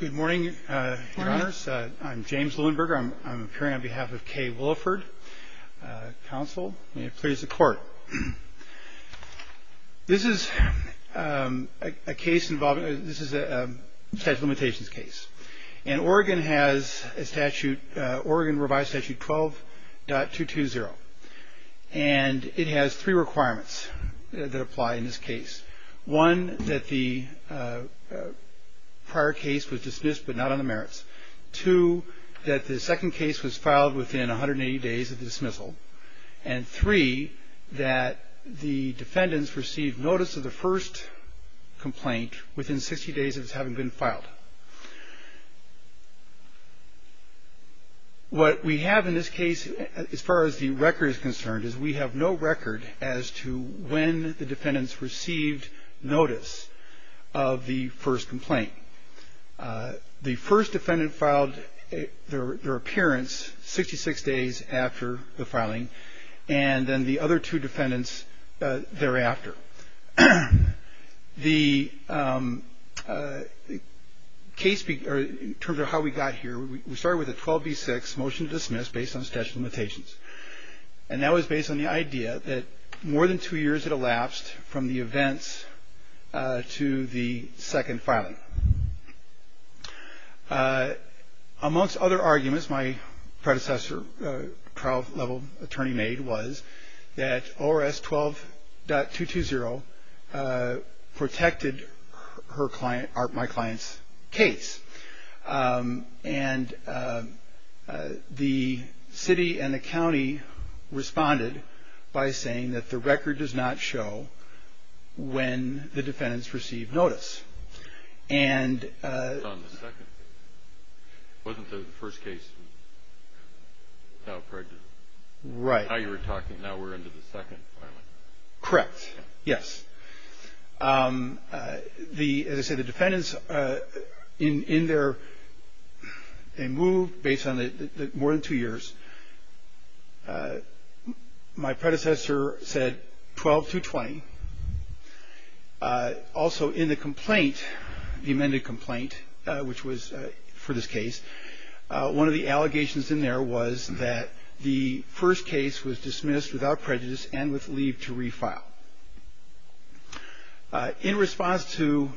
Good morning, your honors. I'm James Luenberger. I'm appearing on behalf of K. Williford, counsel. May it please the court. This is a case involving, this is a statute of limitations case. And Oregon has a statute, Oregon revised statute 12.220. And it has three requirements that apply in this case. One, that the prior case was dismissed but not on the merits. Two, that the second case was filed within 180 days of the dismissal. And three, that the defendants received notice of the first complaint within 60 days of this having been filed. What we have in this case, as far as the record is concerned, is we have no record as to when the defendants received notice of the first complaint. The first defendant filed their appearance 66 days after the filing. And then the other two defendants thereafter. The case, in terms of how we got here, we started with a 12B6 motion to dismiss based on statute of limitations. And that was based on the idea that more than two years had elapsed from the events to the second filing. Amongst other arguments, my predecessor trial level attorney made was that ORS 12.220 protected my client's case. And the city and the county responded by saying that the record does not show when the defendants received notice. And. It was on the second. It wasn't the first case. Right. Now you were talking, now we're into the second filing. Correct. Yes. As I said, the defendants, in their move based on more than two years, my predecessor said 12.220. Also in the complaint, the amended complaint, which was for this case, one of the allegations in there was that the first case was dismissed without prejudice and with leave to refile. In response to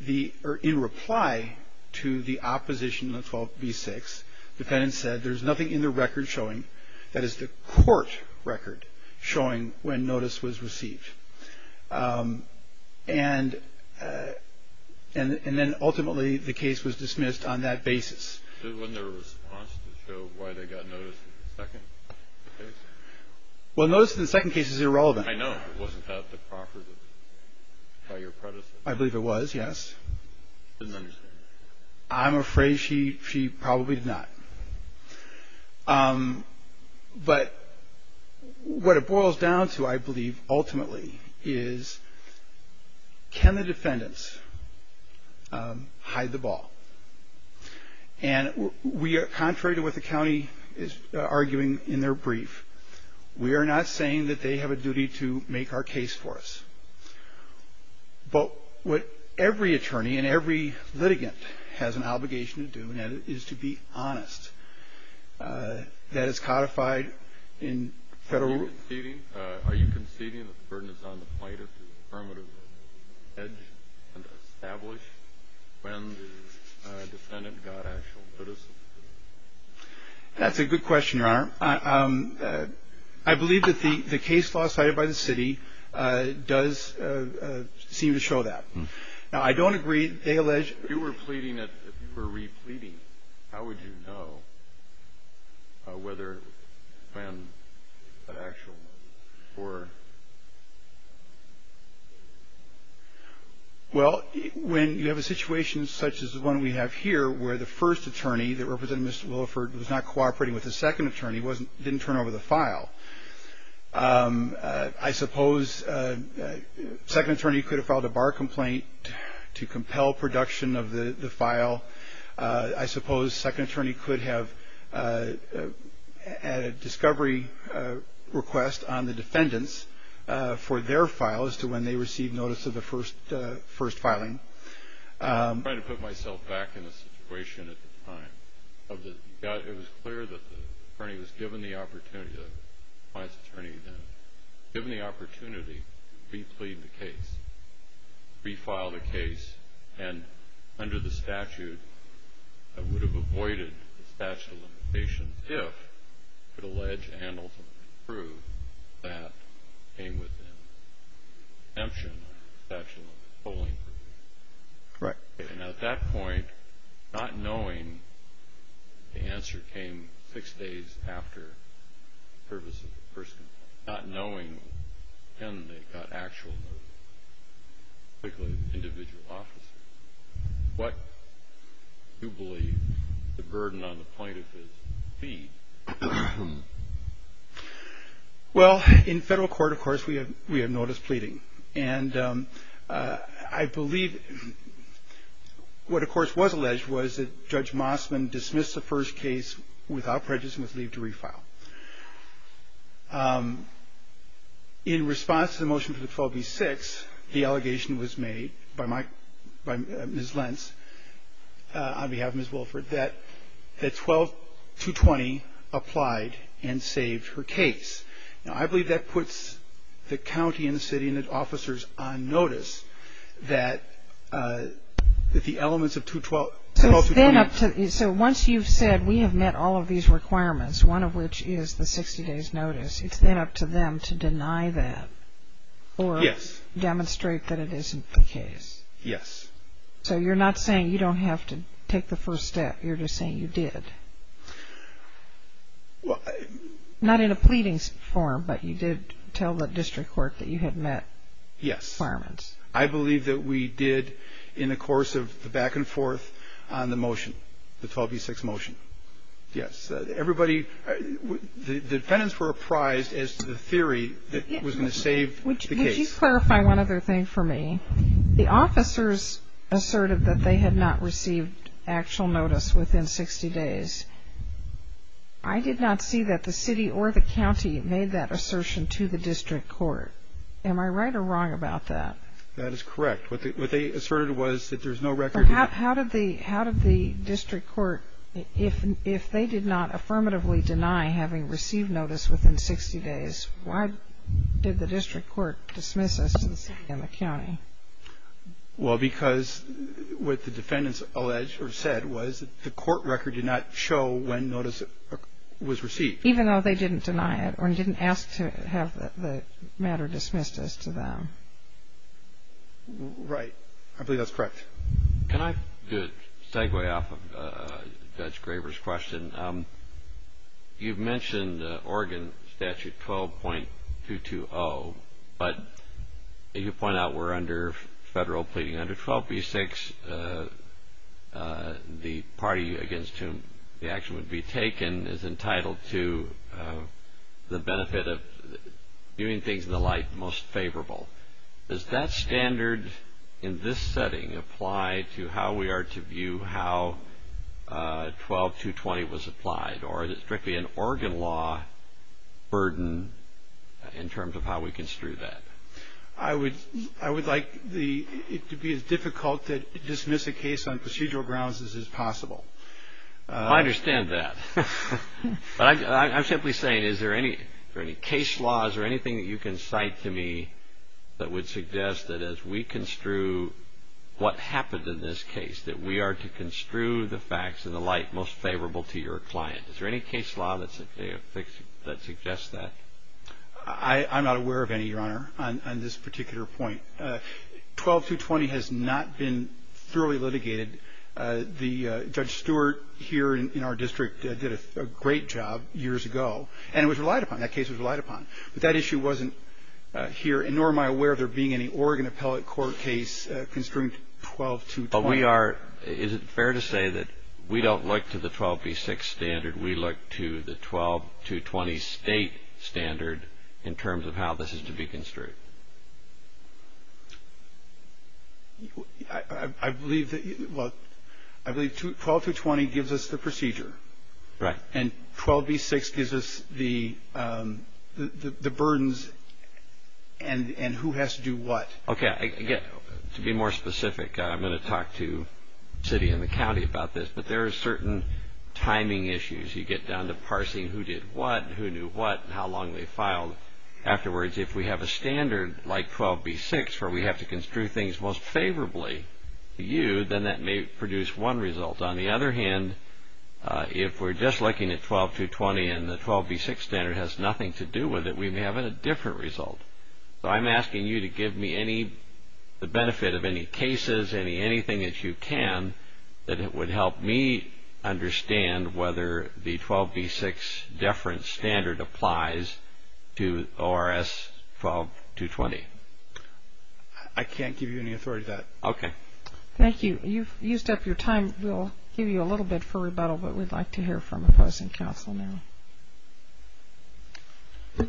the or in reply to the opposition, the 12B6 defendants said there's nothing in the record showing that is the court record showing when notice was received. And and then ultimately the case was dismissed on that basis. Wasn't there a response to show why they got notice in the second case? Well, notice in the second case is irrelevant. I know. Wasn't that the property by your predecessor? I believe it was. Yes. I'm afraid she she probably did not. But what it boils down to, I believe, ultimately, is can the defendants hide the ball? And we are contrary to what the county is arguing in their brief. We are not saying that they have a duty to make our case for us. But what every attorney and every litigant has an obligation to do is to be honest, that is codified in federal. Are you conceding that the burden is on the plight of the affirmative edge and establish when the defendant got actual notice? That's a good question. Your Honor, I believe that the case law cited by the city does seem to show that. Now, I don't agree. They allege you were pleading it were repleting. How would you know whether an actual or. Well, when you have a situation such as the one we have here, where the first attorney that represented Mr. Wilford was not cooperating with the second attorney wasn't didn't turn over the file. I suppose second attorney could have filed a bar complaint to compel production of the file. I suppose second attorney could have had a discovery request on the defendants for their file as to when they received notice of the first first filing. I'm trying to put myself back in a situation at the time of the guy who was clear that the attorney was given the opportunity. Attorney given the opportunity to plead the case, refile the case and under the statute, I would have avoided the statute of limitations if it allege handles through that came with. I'm sure that's right. And at that point, not knowing the answer came six days after the purpose of the person, not knowing him, they got actual individual officer. What you believe the burden on the point of his feet. Well, in federal court, of course, we have we have notice pleading. And I believe what, of course, was alleged was that Judge Mossman dismissed the first case without prejudice and was leave to refile. In response to the motion for the phobia six, the allegation was made by my by his lens. On behalf of Ms. Wilford, that that 12 to 20 applied and saved her case. Now, I believe that puts the county and the city and its officers on notice that that the elements of to 12. So then up to. So once you've said we have met all of these requirements, one of which is the 60 days notice, it's then up to them to deny that or yes, demonstrate that it isn't the case. Yes. So you're not saying you don't have to take the first step. You're just saying you did. Well, not in a pleading form, but you did tell the district court that you had met. Yes. Firements. I believe that we did in the course of the back and forth on the motion. The Toby six motion. Yes. Everybody. The defendants were apprised as to the theory that was going to save. Clarify one other thing for me. The officers asserted that they had not received actual notice within 60 days. I did not see that the city or the county made that assertion to the district court. Am I right or wrong about that? That is correct. What they asserted was that there's no record. How did the how did the district court if if they did not affirmatively deny having received notice within 60 days? Why did the district court dismiss us in the county? Well, because with the defendants alleged or said was the court record did not show when notice was received, even though they didn't deny it or didn't ask to have the matter dismissed as to them. Right. I believe that's correct. Can I do it? Segue off of Judge Graber's question. You've mentioned Oregon Statute 12.220. But you point out we're under federal pleading under 12b6. The party against whom the action would be taken is entitled to the benefit of doing things in the light most favorable. Does that standard in this setting apply to how we are to view how 12.220 was applied? Or is it strictly an Oregon law burden in terms of how we construe that? I would like it to be as difficult to dismiss a case on procedural grounds as is possible. I understand that. I'm simply saying, is there any case laws or anything that you can cite to me that would suggest that as we construe what happened in this case, that we are to construe the facts in the light most favorable to your client? Is there any case law that suggests that? I'm not aware of any, Your Honor, on this particular point. 12.220 has not been thoroughly litigated. Judge Stewart here in our district did a great job years ago. And it was relied upon. That case was relied upon. But that issue wasn't here, nor am I aware of there being any Oregon appellate court case construing 12.220. Is it fair to say that we don't look to the 12b6 standard? We look to the 12.220 state standard in terms of how this is to be construed? I believe that 12.220 gives us the procedure. Right. And 12b6 gives us the burdens and who has to do what. Okay. To be more specific, I'm going to talk to the city and the county about this. But there are certain timing issues. You get down to parsing who did what and who knew what and how long they filed. Afterwards, if we have a standard like 12b6 where we have to construe things most favorably to you, then that may produce one result. On the other hand, if we're just looking at 12.220 and the 12b6 standard has nothing to do with it, we may have a different result. So I'm asking you to give me the benefit of any cases, anything that you can, that it would help me understand whether the 12b6 deference standard applies to ORS 12.220. I can't give you any authority to that. Okay. Thank you. You've used up your time. We'll give you a little bit for rebuttal, but we'd like to hear from opposing counsel now. Good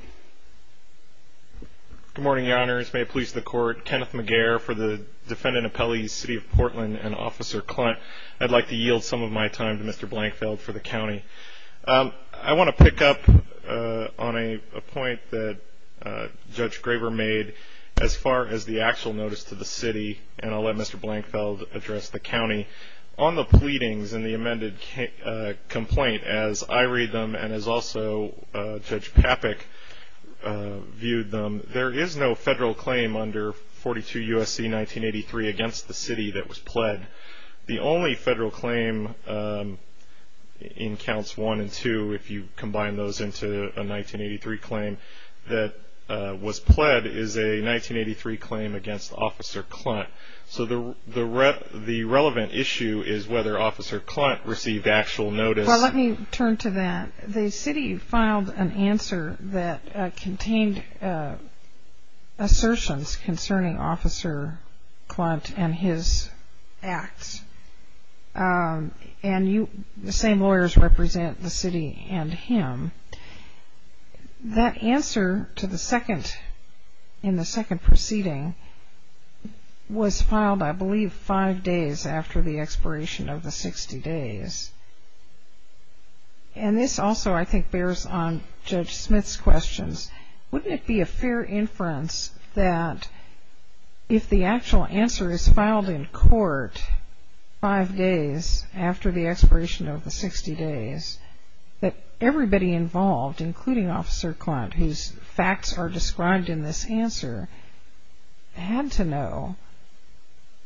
morning, Your Honors. May it please the Court. Kenneth Maguire for the Defendant Appellees, City of Portland, and Officer Clunt. I'd like to yield some of my time to Mr. Blankfeld for the county. I want to pick up on a point that Judge Graver made as far as the actual notice to the city, and I'll let Mr. Blankfeld address the county. On the pleadings and the amended complaint, as I read them and as also Judge Papek viewed them, there is no federal claim under 42 U.S.C. 1983 against the city that was pled. The only federal claim in Counts 1 and 2, if you combine those into a 1983 claim that was pled, is a 1983 claim against Officer Clunt. So the relevant issue is whether Officer Clunt received actual notice. Well, let me turn to that. The city filed an answer that contained assertions concerning Officer Clunt and his acts, and the same lawyers represent the city and him. That answer in the second proceeding was filed, I believe, five days after the expiration of the 60 days. And this also, I think, bears on Judge Smith's questions. Wouldn't it be a fair inference that if the actual answer is filed in court five days after the expiration of the 60 days, that everybody involved, including Officer Clunt, whose facts are described in this answer, had to know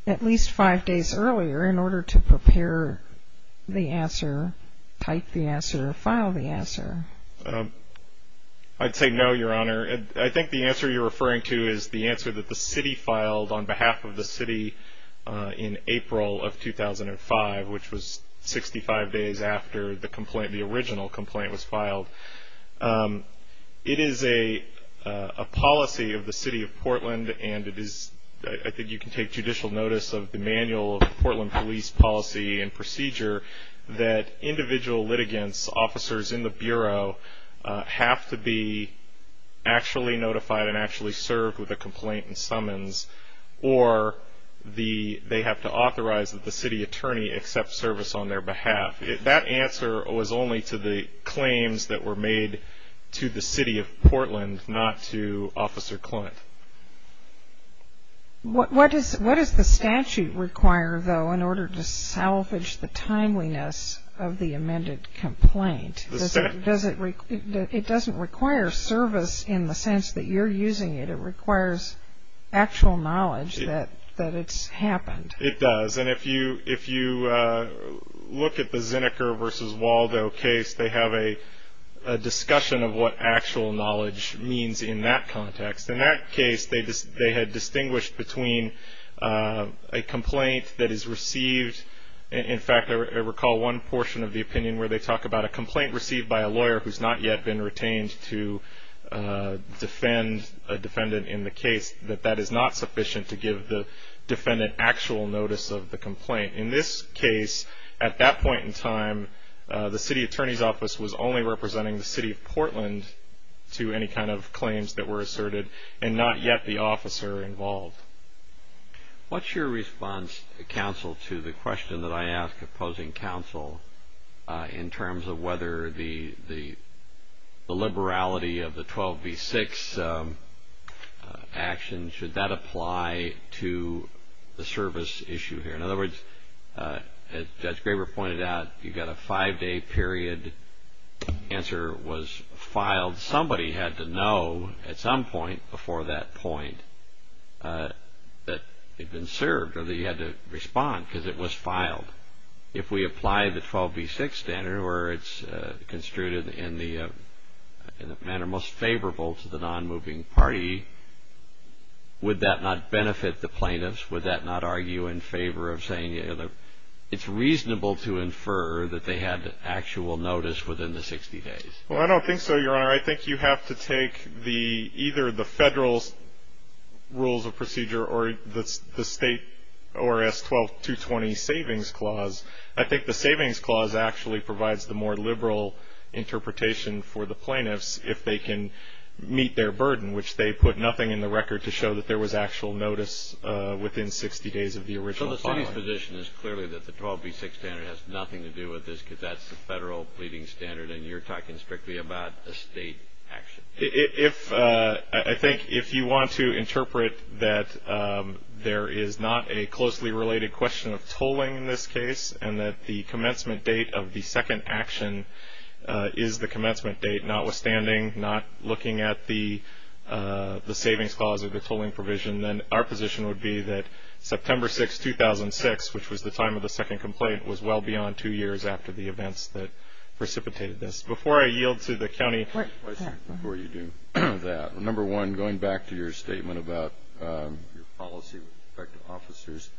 at least five days earlier in order to prepare the answer, type the answer, or file the answer? I'd say no, Your Honor. I think the answer you're referring to is the answer that the city filed on behalf of the city in April of 2005, which was 65 days after the original complaint was filed. It is a policy of the city of Portland, and I think you can take judicial notice of the manual of the Portland Police Policy and Procedure, that individual litigants, officers in the Bureau, have to be actually notified and actually served with a complaint and summons, or they have to authorize that the city attorney accept service on their behalf. That answer was only to the claims that were made to the city of Portland, not to Officer Clunt. What does the statute require, though, in order to salvage the timeliness of the amended complaint? It doesn't require service in the sense that you're using it. It requires actual knowledge that it's happened. It does. And if you look at the Zinnecker v. Waldo case, they have a discussion of what actual knowledge means in that context. In that case, they had distinguished between a complaint that is received. In fact, I recall one portion of the opinion where they talk about a complaint received by a lawyer who's not yet been retained to defend a defendant in the case, that that is not sufficient to give the defendant actual notice of the complaint. In this case, at that point in time, the city attorney's office was only representing the city of Portland to any kind of claims that were asserted and not yet the officer involved. What's your response, counsel, to the question that I ask, opposing counsel, in terms of whether the liberality of the 12 v. 6 action, should that apply to the service issue here? In other words, as Judge Graber pointed out, you've got a five-day period. The answer was filed. Somebody had to know at some point before that point that they'd been served or they had to respond because it was filed. If we apply the 12 v. 6 standard where it's construed in the manner most favorable to the non-moving party, would that not benefit the plaintiffs? Would that not argue in favor of saying it's reasonable to infer that they had actual notice within the 60 days? Well, I don't think so, Your Honor. I think you have to take either the federal rules of procedure or the state ORS 12-220 savings clause. I think the savings clause actually provides the more liberal interpretation for the plaintiffs if they can meet their burden, which they put nothing in the record to show that there was actual notice within 60 days of the original filing. So the city's position is clearly that the 12 v. 6 standard has nothing to do with this because that's the federal pleading standard and you're talking strictly about a state action. I think if you want to interpret that there is not a closely related question of tolling in this case and that the commencement date of the second action is the commencement date notwithstanding, not looking at the savings clause or the tolling provision, then our position would be that September 6, 2006, which was the time of the second complaint, was well beyond two years after the events that precipitated this. Before I yield to the county. Before you do that, number one, going back to your statement about your policy with respect to officers,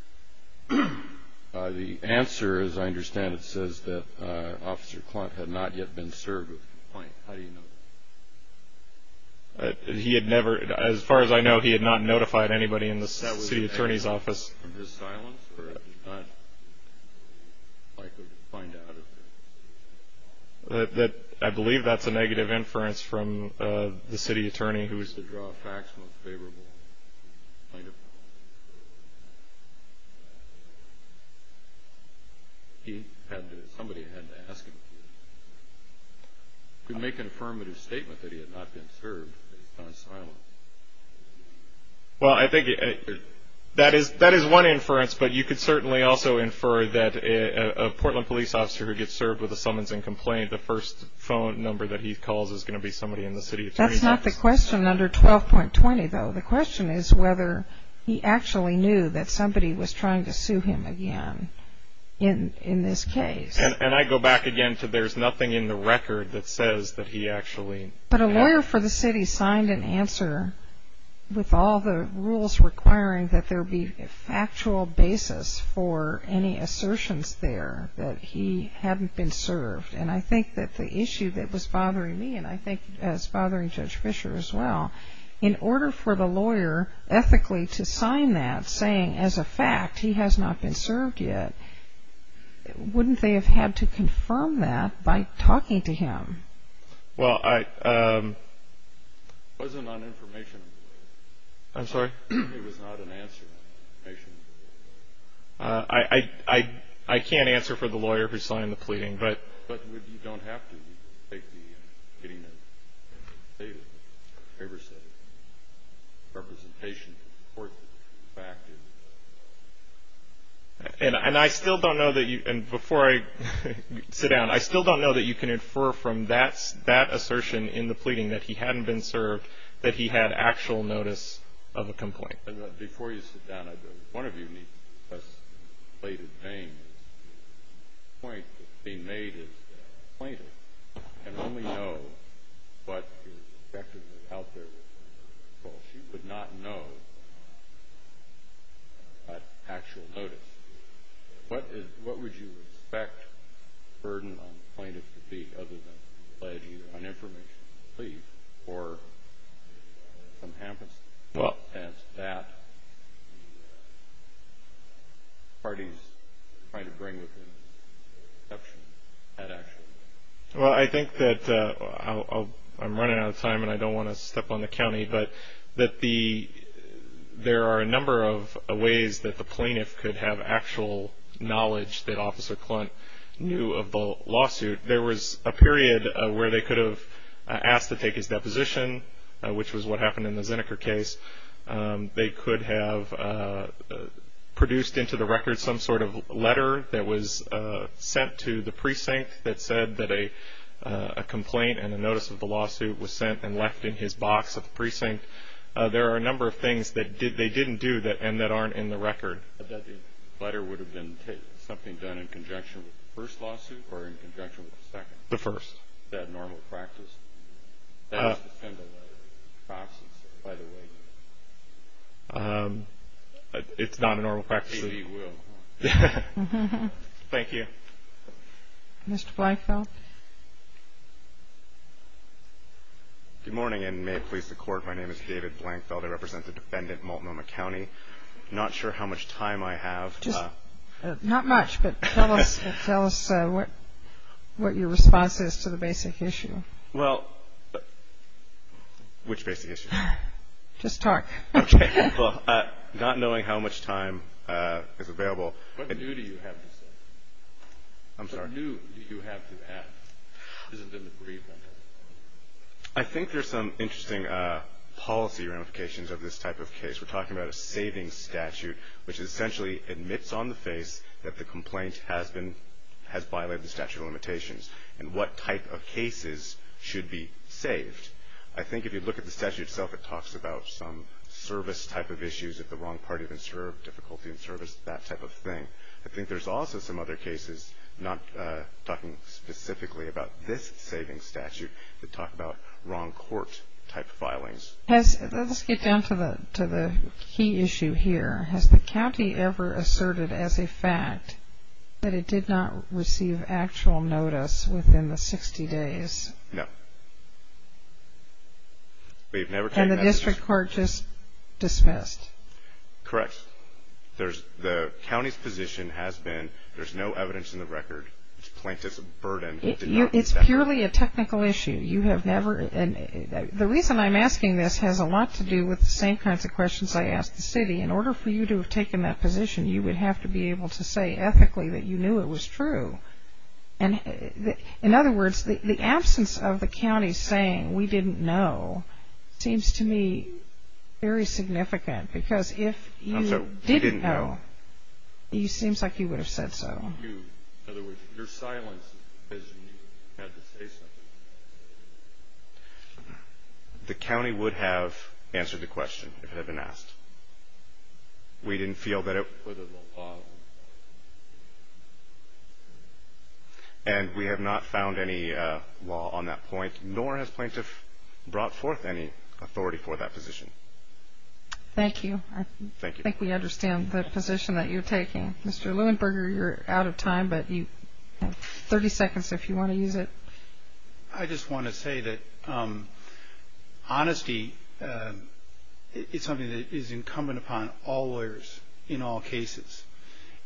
the answer, as I understand it, says that Officer Clunt had not yet been served with the complaint. How do you know that? He had never. As far as I know, he had not notified anybody in the city attorney's office. From his silence or if he's not likely to find out? I believe that's a negative inference from the city attorney. He used to draw facts most favorable. Somebody had to ask him to. He could make an affirmative statement that he had not been served. It's not silence. Well, I think that is one inference, but you could certainly also infer that a Portland police officer who gets served with a summons and complaint, the first phone number that he calls is going to be somebody in the city attorney's office. That's not the question under 12.20, though. The question is whether he actually knew that somebody was trying to sue him again in this case. And I go back again to there's nothing in the record that says that he actually. But a lawyer for the city signed an answer with all the rules requiring that there be factual basis for any assertions there that he hadn't been served. And I think that the issue that was bothering me, and I think it's bothering Judge Fischer as well, in order for the lawyer ethically to sign that saying as a fact he has not been served yet, wouldn't they have had to confirm that by talking to him? Well, I... It wasn't on information. I'm sorry? It was not an answer on information. I can't answer for the lawyer who signed the pleading, but... But you don't have to. You can take the getting the data, the papers, the representation to report the fact. And I still don't know that you... That assertion in the pleading that he hadn't been served, that he had actual notice of a complaint. And before you sit down, one of you needs to discuss the plaintiff's name. The point that's being made is that the plaintiff can only know what your perspective is out there. She would not know actual notice. What would you expect the burden on the plaintiff to be, other than pledging on information to leave or some amnesty, as that party's trying to bring with it an exception, an action? Well, I think that I'm running out of time, and I don't want to step on the county, but there are a number of ways that the plaintiff could have actual knowledge that Officer Clunt knew of the lawsuit. There was a period where they could have asked to take his deposition, which was what happened in the Zinniker case. They could have produced into the record some sort of letter that was sent to the precinct that said that a complaint and a notice of the lawsuit was sent and left in his box at the precinct. There are a number of things that they didn't do and that aren't in the record. But that letter would have been something done in conjunction with the first lawsuit or in conjunction with the second? The first. Is that normal practice? That's the kind of letter he processes, by the way. It's not a normal practice. Maybe he will. Thank you. Mr. Blankfeld? Good morning, and may it please the Court, my name is David Blankfeld. I represent the defendant, Multnomah County. I'm not sure how much time I have. Not much, but tell us what your response is to the basic issue. Well, which basic issue? Just talk. Okay. Well, not knowing how much time is available. What new do you have to say? I'm sorry? What new do you have to add? Isn't there an agreement? I think there's some interesting policy ramifications of this type of case. We're talking about a savings statute, which essentially admits on the face that the complaint has violated the statute of limitations and what type of cases should be saved. I think if you look at the statute itself, it talks about some service type of issues, if the wrong party has been served, difficulty in service, that type of thing. I think there's also some other cases, not talking specifically about this savings statute, that talk about wrong court type filings. Let's get down to the key issue here. Has the county ever asserted as a fact that it did not receive actual notice within the 60 days? No. And the district court just dismissed? Correct. The county's position has been there's no evidence in the record. The complaint is a burden. It's purely a technical issue. The reason I'm asking this has a lot to do with the same kinds of questions I asked the city. In order for you to have taken that position, you would have to be able to say ethically that you knew it was true. In other words, the absence of the county saying we didn't know seems to me very significant. Because if you didn't know, it seems like you would have said so. In other words, your silence is when you had to say something. The county would have answered the question if it had been asked. We didn't feel that it was a law. And we have not found any law on that point, nor has plaintiff brought forth any authority for that position. Thank you. Thank you. I think we understand the position that you're taking. Mr. Leuenberger, you're out of time, but you have 30 seconds if you want to use it. I just want to say that honesty is something that is incumbent upon all lawyers in all cases.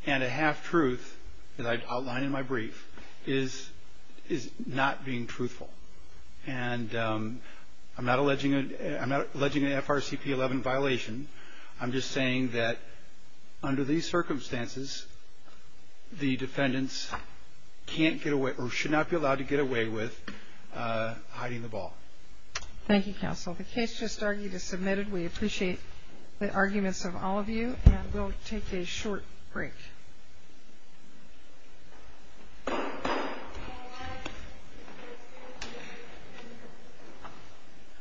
And a half-truth that I outline in my brief is not being truthful. And I'm not alleging an FRCP 11 violation. I'm just saying that under these circumstances, the defendants can't get away or should not be allowed to get away with hiding the ball. Thank you, counsel. The case just argued is submitted. We appreciate the arguments of all of you. And we'll take a short break. Thank you.